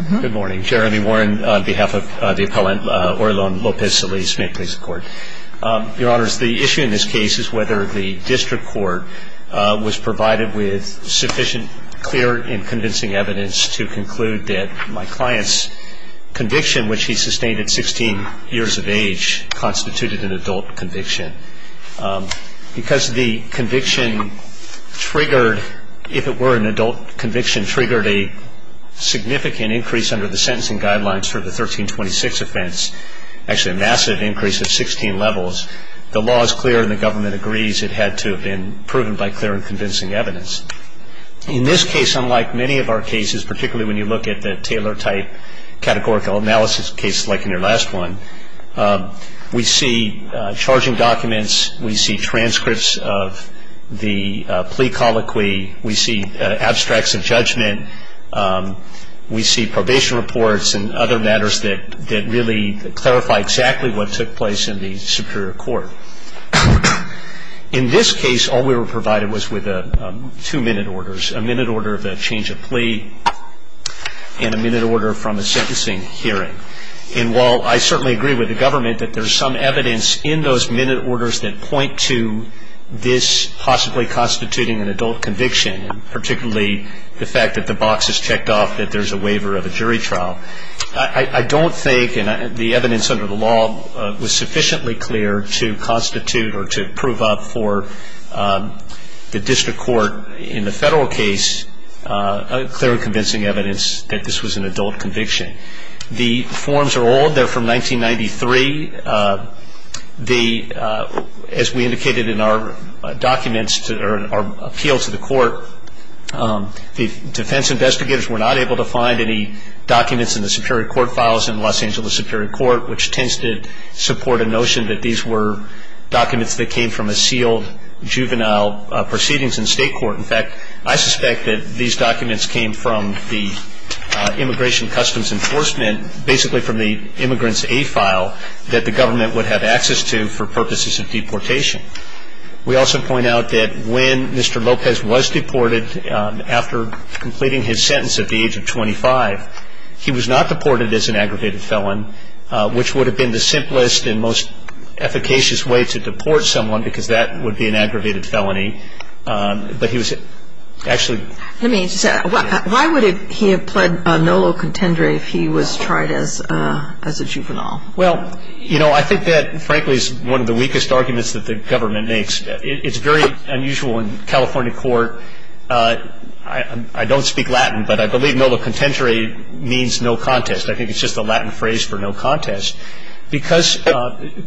on behalf of the appellant Orilon Lopez-Solis. May it please the Court. Your Honors, the issue in this case is whether the district court was provided with sufficient clear and convincing evidence to conclude that my client's conviction, which he sustained at 16 years of age, constituted an adult conviction. Because the conviction triggered, if it were an adult conviction, triggered a significant increase under the sentencing guidelines for the 1326 offense, actually a massive increase of 16 levels, the law is clear and the government agrees it had to have been proven by clear and convincing evidence. In this case, unlike many of our cases, particularly when you look at the Taylor-type categorical analysis case like in your last one, we see charging documents, we see transcripts of the plea colloquy, we see abstracts of judgment, we see probation reports and other matters that really clarify exactly what took place in the superior court. In this case, all we were provided was with two minute orders, a minute order of a change of plea and a minute order from a sentencing hearing. And while I certainly agree with the government that there's some evidence in those minute orders that point to this possibly constituting an adult conviction, particularly the fact that the box is checked off, that there's a waiver of a jury trial. I don't think, and the evidence under the law was sufficiently clear to constitute or to prove up for the district court in the federal case clear and convincing evidence that this was an adult conviction. The forms are old. They're from 1993. As we indicated in our documents, our appeal to the court, the defense investigators were not able to find any documents in the superior court files in Los Angeles Superior Court, which tends to support a notion that these were documents that came from a sealed juvenile proceedings in state court. In fact, I suspect that these documents came from the Immigration Customs Enforcement, basically from the immigrant's A file that the government would have access to for purposes of deportation. We also point out that when Mr. Lopez was deported, after completing his sentence at the age of 25, he was not deported as an aggravated felon, which would have been the simplest and most efficacious way to deport someone because that would be an aggravated felony. But he was actually ‑‑ Let me just add, why would he have pled nolo contendere if he was tried as a juvenile? Well, you know, I think that, frankly, is one of the weakest arguments that the government makes. It's very unusual in California court. I don't speak Latin, but I believe nolo contendere means no contest. I think it's just a Latin phrase for no contest. Because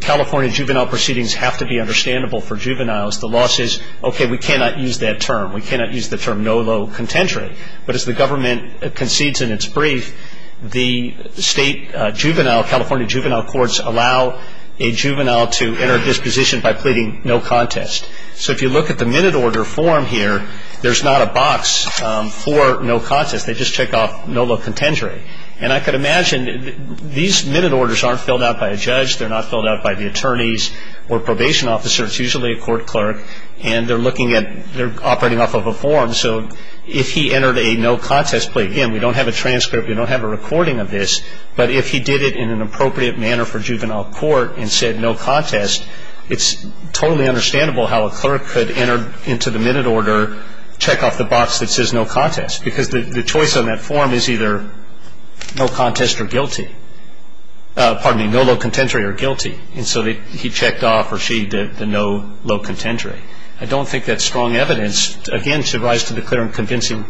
California juvenile proceedings have to be understandable for juveniles, the law says, okay, we cannot use that term. We cannot use the term nolo contendere. But as the government concedes in its brief, the state juvenile, California juvenile courts allow a juvenile to enter disposition by pleading no contest. So if you look at the minute order form here, there's not a box for no contest. They just check off nolo contendere. And I could imagine these minute orders aren't filled out by a judge. They're not filled out by the attorneys or probation officers. It's usually a court clerk. And they're looking at ‑‑ they're operating off of a form. So if he entered a no contest plea, again, we don't have a transcript. We don't have a recording of this. But if he did it in an appropriate manner for juvenile court and said no contest, it's totally understandable how a clerk could enter into the minute order, check off the box that says no contest. Because the choice on that form is either no contest or guilty. Pardon me, nolo contendere or guilty. And so he checked off or she did the nolo contendere. I don't think that's strong evidence. Again, it's a rise to the clear and convincing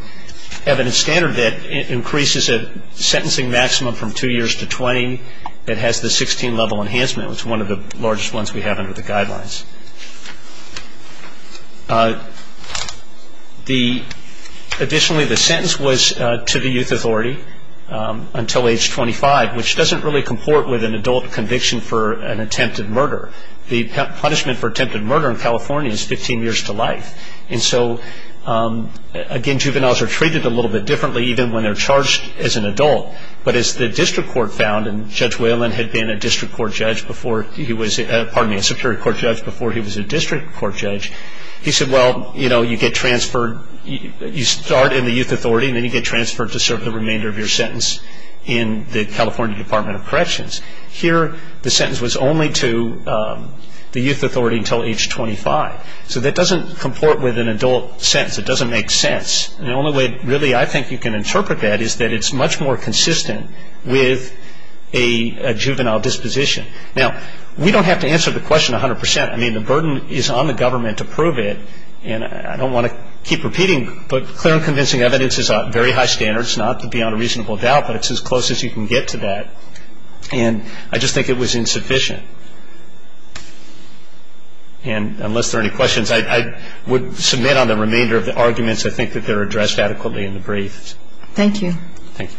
evidence standard that increases a sentencing maximum from two years to 20. It has the 16 level enhancement, which is one of the largest ones we have under the guidelines. Additionally, the sentence was to the youth authority until age 25, which doesn't really comport with an adult conviction for an attempted murder. The punishment for attempted murder in California is 15 years to life. And so, again, juveniles are treated a little bit differently even when they're charged as an adult. But as the district court found, and Judge Whalen had been a district court judge before he was, pardon me, a superior court judge before he was a district court judge, he said, well, you know, you get transferred, you start in the youth authority and then you get transferred to serve the remainder of your sentence in the California Department of Corrections. Here, the sentence was only to the youth authority until age 25. So that doesn't comport with an adult sentence. It doesn't make sense. And the only way, really, I think you can interpret that is that it's much more consistent with a juvenile disposition. Now, we don't have to answer the question 100 percent. I mean, the burden is on the government to prove it, and I don't want to keep repeating, but clear and convincing evidence is a very high standard. It's not beyond a reasonable doubt, but it's as close as you can get to that. And I just think it was insufficient. And unless there are any questions, I would submit on the remainder of the arguments. I think that they're addressed adequately in the brief. Thank you. Thank you.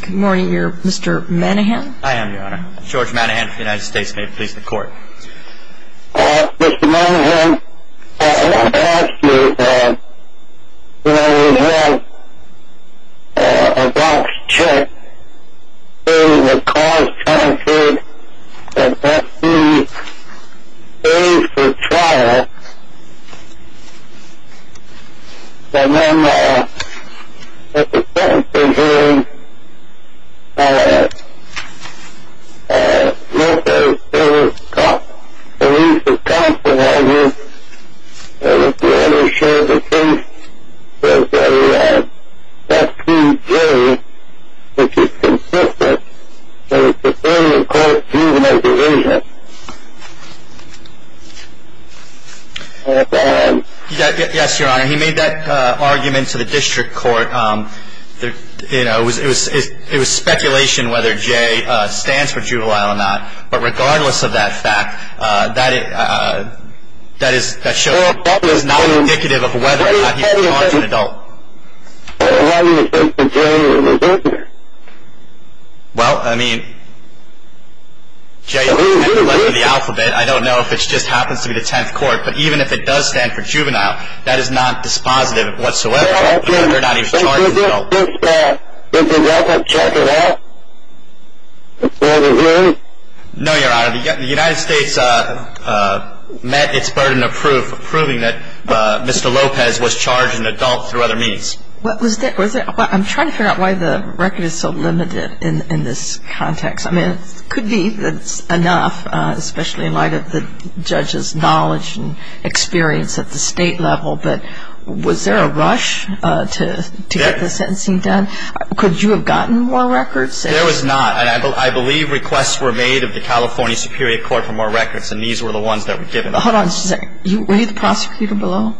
Good morning. Are you Mr. Manahan? I am, Your Honor. George Manahan of the United States. May it please the Court. Mr. Manahan, I want to ask you, you know, a box check in the cost statute that must be paid for trial. But no matter what the circumstances are, Mr. Davis Cox believes that Cox would argue with the ownership of case, that the FQJ, which is consistent with the Supreme Court juvenile division. Yes, Your Honor, he made that argument to the district court. You know, it was speculation whether Jay stands for juvenile or not. But regardless of that fact, that is not indicative of whether or not he's charged an adult. Well, I mean, Jay is technically left in the alphabet. I don't know if it just happens to be the Tenth Court, but even if it does stand for juvenile, that is not dispositive whatsoever of whether or not he's charged an adult. Is the record checking out? No, Your Honor. The United States met its burden of proof, proving that Mr. Lopez was charged an adult through other means. I'm trying to figure out why the record is so limited in this context. I mean, it could be that it's enough, especially in light of the judge's knowledge and experience at the state level. But was there a rush to get the sentencing done? Could you have gotten more records? There was not. And I believe requests were made of the California Superior Court for more records, and these were the ones that were given. Hold on just a second. Were you the prosecutor below?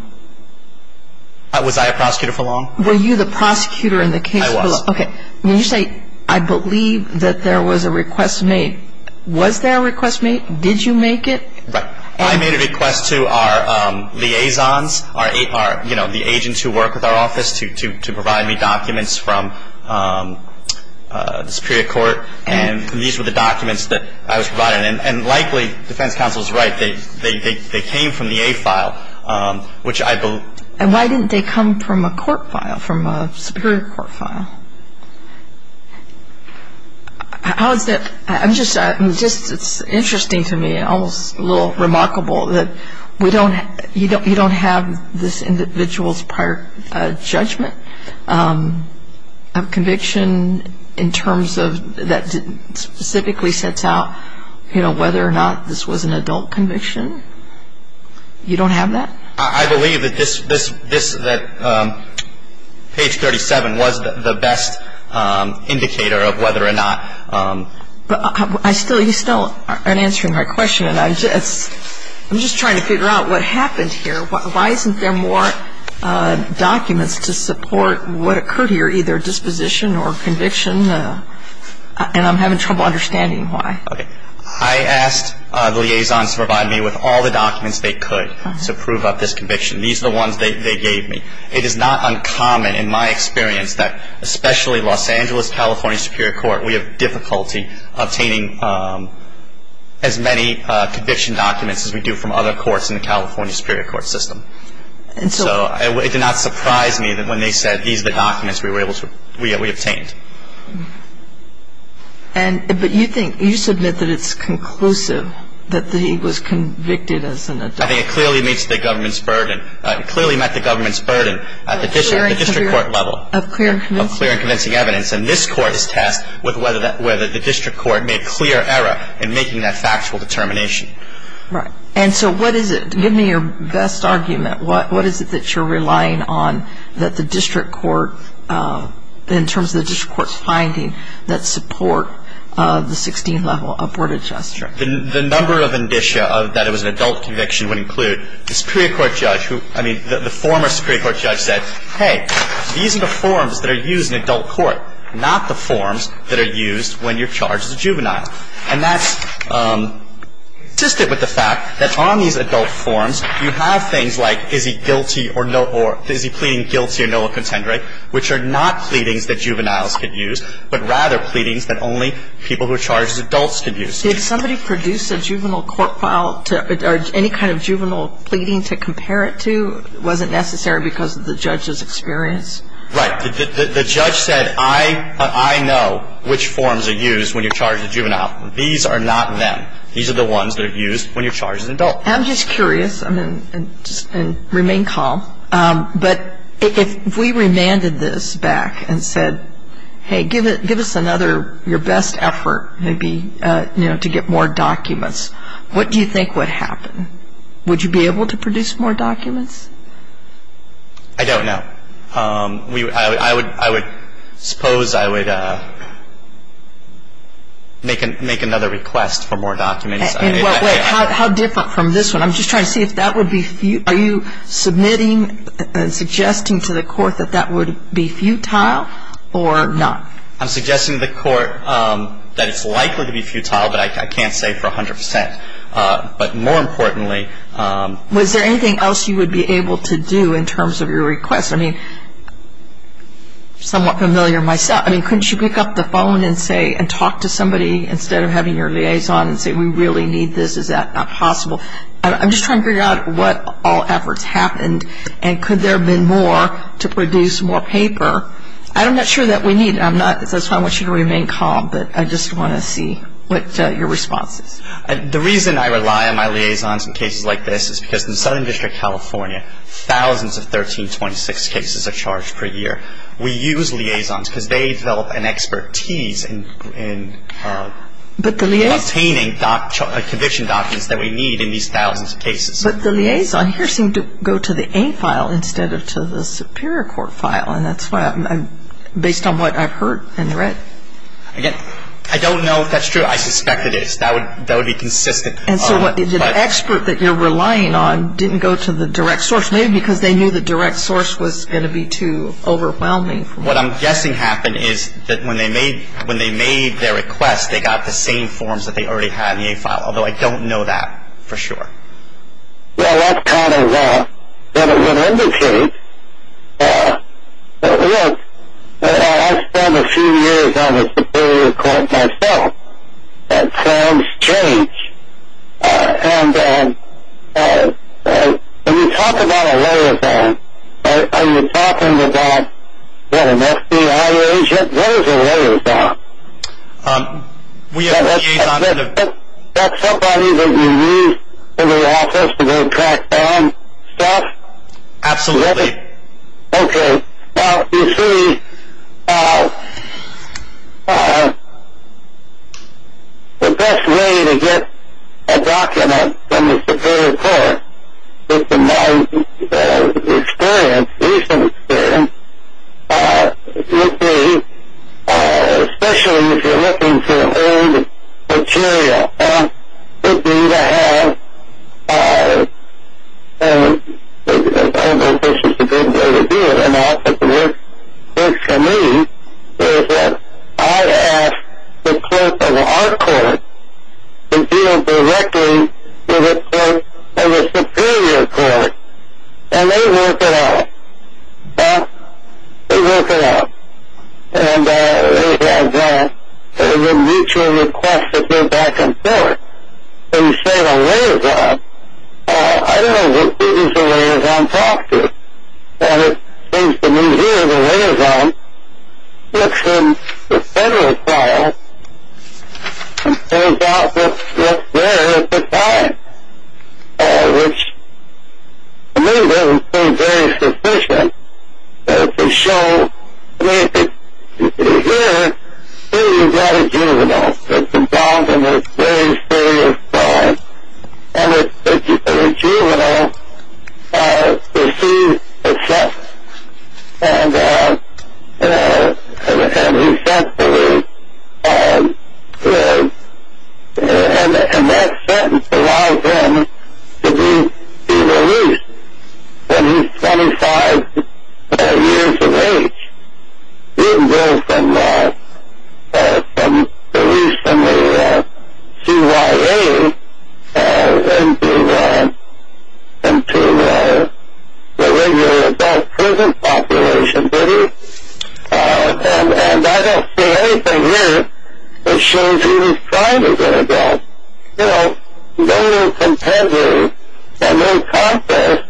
Was I a prosecutor for long? Were you the prosecutor in the case below? I was. Okay. When you say, I believe that there was a request made, was there a request made, did you make it? Right. I made a request to our liaisons, our, you know, the agents who work with our office to provide me documents from the Superior Court, and these were the documents that I was provided. And likely the defense counsel is right. They came from the A file, which I believe. And why didn't they come from a court file, from a Superior Court file? How is that? I'm just, it's interesting to me, almost a little remarkable, that we don't, you don't have this individual's prior judgment of conviction in terms of, that specifically sets out, you know, whether or not this was an adult conviction. You don't have that? I believe that this, that page 37 was the best indicator of whether or not. But I still, you still aren't answering my question, and I'm just, I'm just trying to figure out what happened here. Why isn't there more documents to support what occurred here, either disposition or conviction? And I'm having trouble understanding why. Okay. I asked the liaisons to provide me with all the documents they could to prove up this conviction. These are the ones they gave me. It is not uncommon in my experience that, especially Los Angeles California Superior Court, we have difficulty obtaining as many conviction documents as we do from other courts in the California Superior Court system. And so it did not surprise me that when they said these are the documents we were able to, we obtained. And, but you think, you submit that it's conclusive that he was convicted as an adult. I think it clearly meets the government's burden. It clearly met the government's burden at the district court level. Of clear and convincing evidence. Of clear and convincing evidence. And this court is tasked with whether the district court made clear error in making that factual determination. Right. And so what is it? Give me your best argument. What is it that you're relying on that the district court, in terms of the district court's finding, that support the 16-level upward adjustment? The number of indicia that it was an adult conviction would include the Superior Court judge who, I mean the former Superior Court judge said, hey, these are the forms that are used in adult court, not the forms that are used when you're charged as a juvenile. And that's consistent with the fact that on these adult forms, you have things like is he guilty or no, or is he pleading guilty or no of contendering, which are not pleadings that juveniles could use, but rather pleadings that only people who are charged as adults could use. Did somebody produce a juvenile court file or any kind of juvenile pleading to compare it to? Was it necessary because of the judge's experience? Right. The judge said, I know which forms are used when you're charged as a juvenile. These are not them. These are the ones that are used when you're charged as an adult. I'm just curious, and remain calm, but if we remanded this back and said, hey, give us another, your best effort maybe to get more documents, what do you think would happen? Would you be able to produce more documents? I don't know. I would suppose I would make another request for more documents. How different from this one? I'm just trying to see if that would be, are you submitting, suggesting to the court that that would be futile or not? I'm suggesting to the court that it's likely to be futile, but I can't say for 100%. But more importantly. Was there anything else you would be able to do in terms of your request? I mean, somewhat familiar myself. I mean, couldn't you pick up the phone and say, and talk to somebody instead of having your liaison and say, we really need this. Is that not possible? I'm just trying to figure out what all efforts happened, and could there have been more to produce more paper? I'm not sure that we need it. That's why I want you to remain calm, but I just want to see what your response is. The reason I rely on my liaisons in cases like this is because in Southern District, California, thousands of 1326 cases are charged per year. We use liaisons because they develop an expertise in obtaining conviction documents that we need in these thousands of cases. But the liaison here seemed to go to the A file instead of to the Superior Court file, and that's based on what I've heard and read. Again, I don't know if that's true. I suspect it is. That would be consistent. And so the expert that you're relying on didn't go to the direct source, maybe because they knew the direct source was going to be too overwhelming for them. What I'm guessing happened is that when they made their request, they got the same forms that they already had in the A file, although I don't know that for sure. Well, that's kind of what it would indicate. Look, I spent a few years on the Superior Court myself, and things change. And when you talk about a liaison, are you talking about, what, an FBI agent? What is a liaison? We have a liaison. Is that somebody that you use in the office to go track down stuff? Absolutely. Okay. Now, you see, the best way to get a document from the Superior Court, based on my experience, recent experience, would be, especially if you're looking for old material, would be to have, I don't know if this is a good way to do it or not, but the way it works for me is that I ask the clerk of our court to deal directly with the clerk of the Superior Court, and they work it out. Well, they work it out. And they have a mutual request to go back and forth. When you say a liaison, I don't know who it is the liaison talks to. And it seems to me here the liaison looks in the Federal file and pulls out what's there at the time, which, to me, doesn't seem very sufficient. To show, I mean, if it's here, here you've got a juvenile that's involved in a very serious crime. And the juvenile receives a sentence. And he says to me, and that sentence allows him to be released when he's 25 years of age. He didn't go from release in the CYA into the regular adult prison population, did he? And I don't see anything here that shows he was trying to go to jail. You know, no competitive and no contest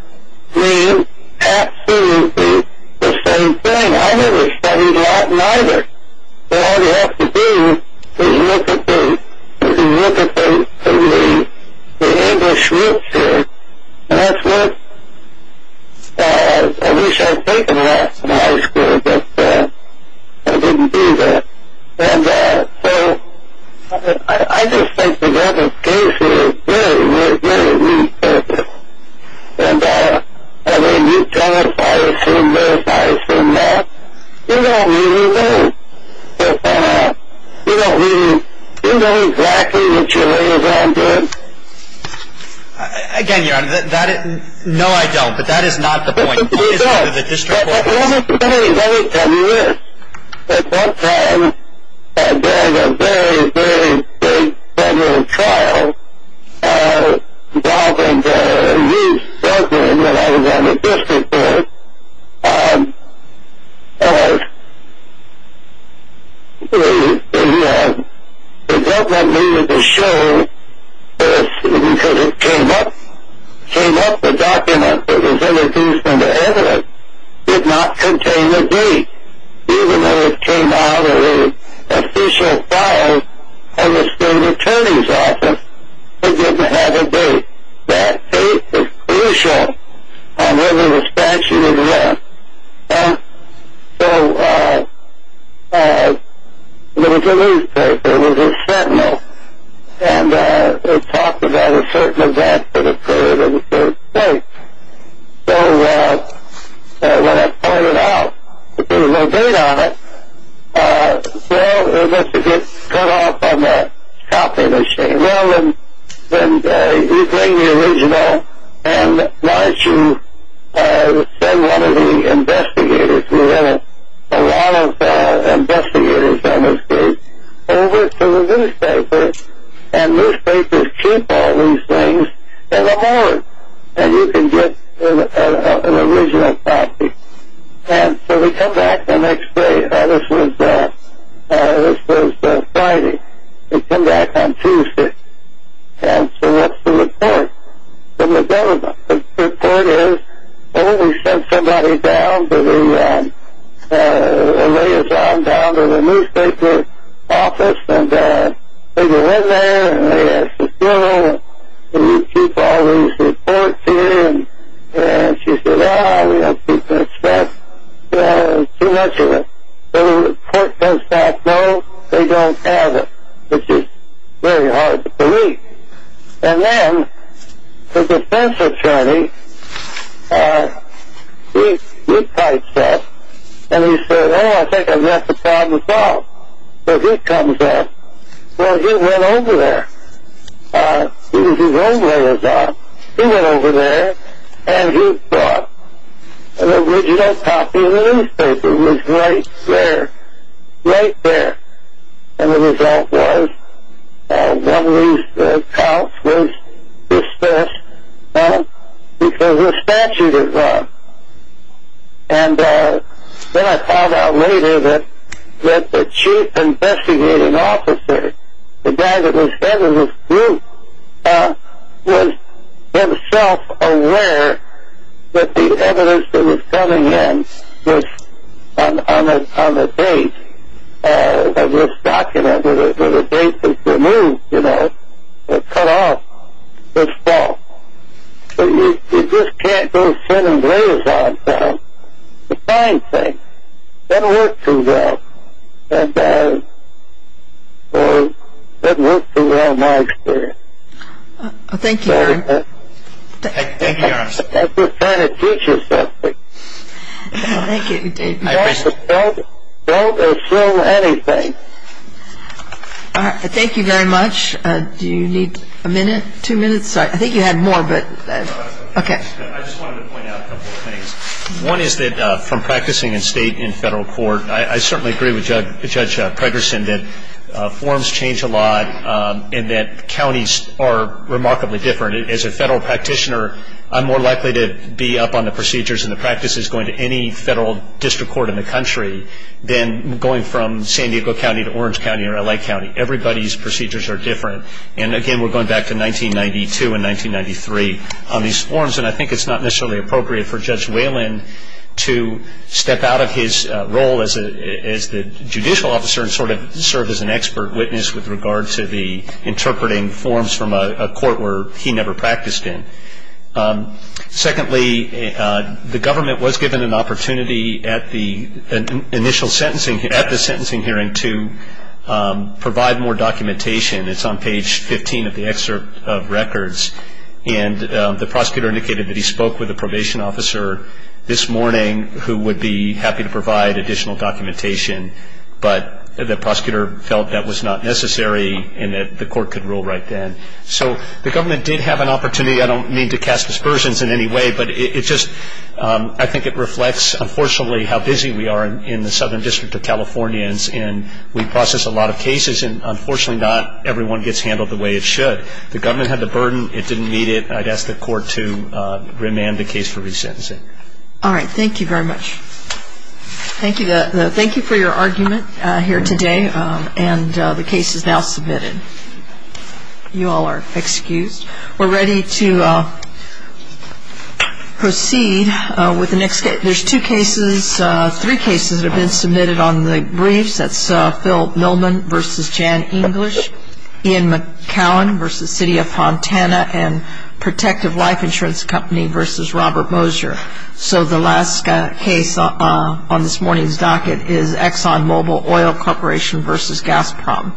means absolutely the same thing. I never studied Latin either. So all you have to do is look at the English roots here. And that's what I wish I had taken in high school, but I didn't do that. And so I just think the government's case here is very, very, very, very purposeful. And when you tell us why it seemed this, why it seemed that, you don't really know. You don't really know exactly what your liaison did. Again, Your Honor, no, I don't. But that is not the point. But let me tell you this. At one time, during a very, very, very federal trial, I was involved in a youth settlement when I was on the district court. And the government needed to show this because it came up, the document that was introduced into evidence did not contain a date. Even though it came out of the official file on the state attorney's office, it didn't have a date. That date is crucial on whether the statute exists. And so there was a newspaper, there was a sentinel, and it talked about a certain event that occurred in a certain state. So when I pointed out that there was no date on it, well, it must have been cut off on the top of the sheet. Well, then you bring the original and why don't you send one of the investigators, we have a lot of investigators on this case, over to the newspaper and newspapers keep all these things in a moment and you can get an original copy. And so we come back the next day. This was Friday. We come back on Tuesday. And so that's the report from the government. The report is when we send somebody down to the liaison down to the newspaper office and they go in there and they ask the general, do you keep all these reports in? And she said, ah, we don't keep that stuff, too much of it. So the court does not know they don't have it, which is very hard to believe. And then the defense attorney, he types that. And he said, oh, I think I've got the problem solved. So he comes up. Well, he went over there. He was his own liaison. He went over there and he brought an original copy of the newspaper. It was right there. Right there. And the result was one of these counts was dismissed because the statute is wrong. And then I found out later that the chief investigating officer, the guy that was head of this group, was himself aware that the evidence that was coming in was on the date of this document where the date was removed, you know, cut off, was false. So you just can't go send a liaison down to find things that work too well. And that worked too well in my experience. Thank you. Thank you, Your Honor. I'm just trying to teach you something. Thank you. Don't assume anything. All right. Thank you very much. Do you need a minute, two minutes? I think you had more, but okay. I just wanted to point out a couple of things. One is that from practicing in state and federal court, I certainly agree with Judge Pregerson that forms change a lot and that counties are remarkably different. As a federal practitioner, I'm more likely to be up on the procedures and the practices going to any federal district court in the country than going from San Diego County to Orange County or L.A. County. Everybody's procedures are different. And, again, we're going back to 1992 and 1993 on these forms. And I think it's not necessarily appropriate for Judge Whalen to step out of his role as the judicial officer and sort of serve as an expert witness with regard to the interpreting forms from a court where he never practiced in. Secondly, the government was given an opportunity at the initial sentencing, at the sentencing hearing, to provide more documentation. It's on page 15 of the excerpt of records. And the prosecutor indicated that he spoke with a probation officer this morning who would be happy to provide additional documentation, but the prosecutor felt that was not necessary and that the court could rule right then. So the government did have an opportunity. I don't mean to cast aspersions in any way, but I think it reflects, unfortunately, how busy we are in the Southern District of Californians. And we process a lot of cases, and, unfortunately, not everyone gets handled the way it should. But the government had the burden. It didn't meet it. I'd ask the court to remand the case for resentencing. All right. Thank you very much. Thank you for your argument here today. And the case is now submitted. You all are excused. We're ready to proceed with the next case. There's two cases, three cases that have been submitted on the briefs. That's Phil Millman v. Jan English, Ian McCowan v. City of Fontana, and Protective Life Insurance Company v. Robert Mosier. So the last case on this morning's docket is ExxonMobil Oil Corporation v. Gazprom. You may come forward.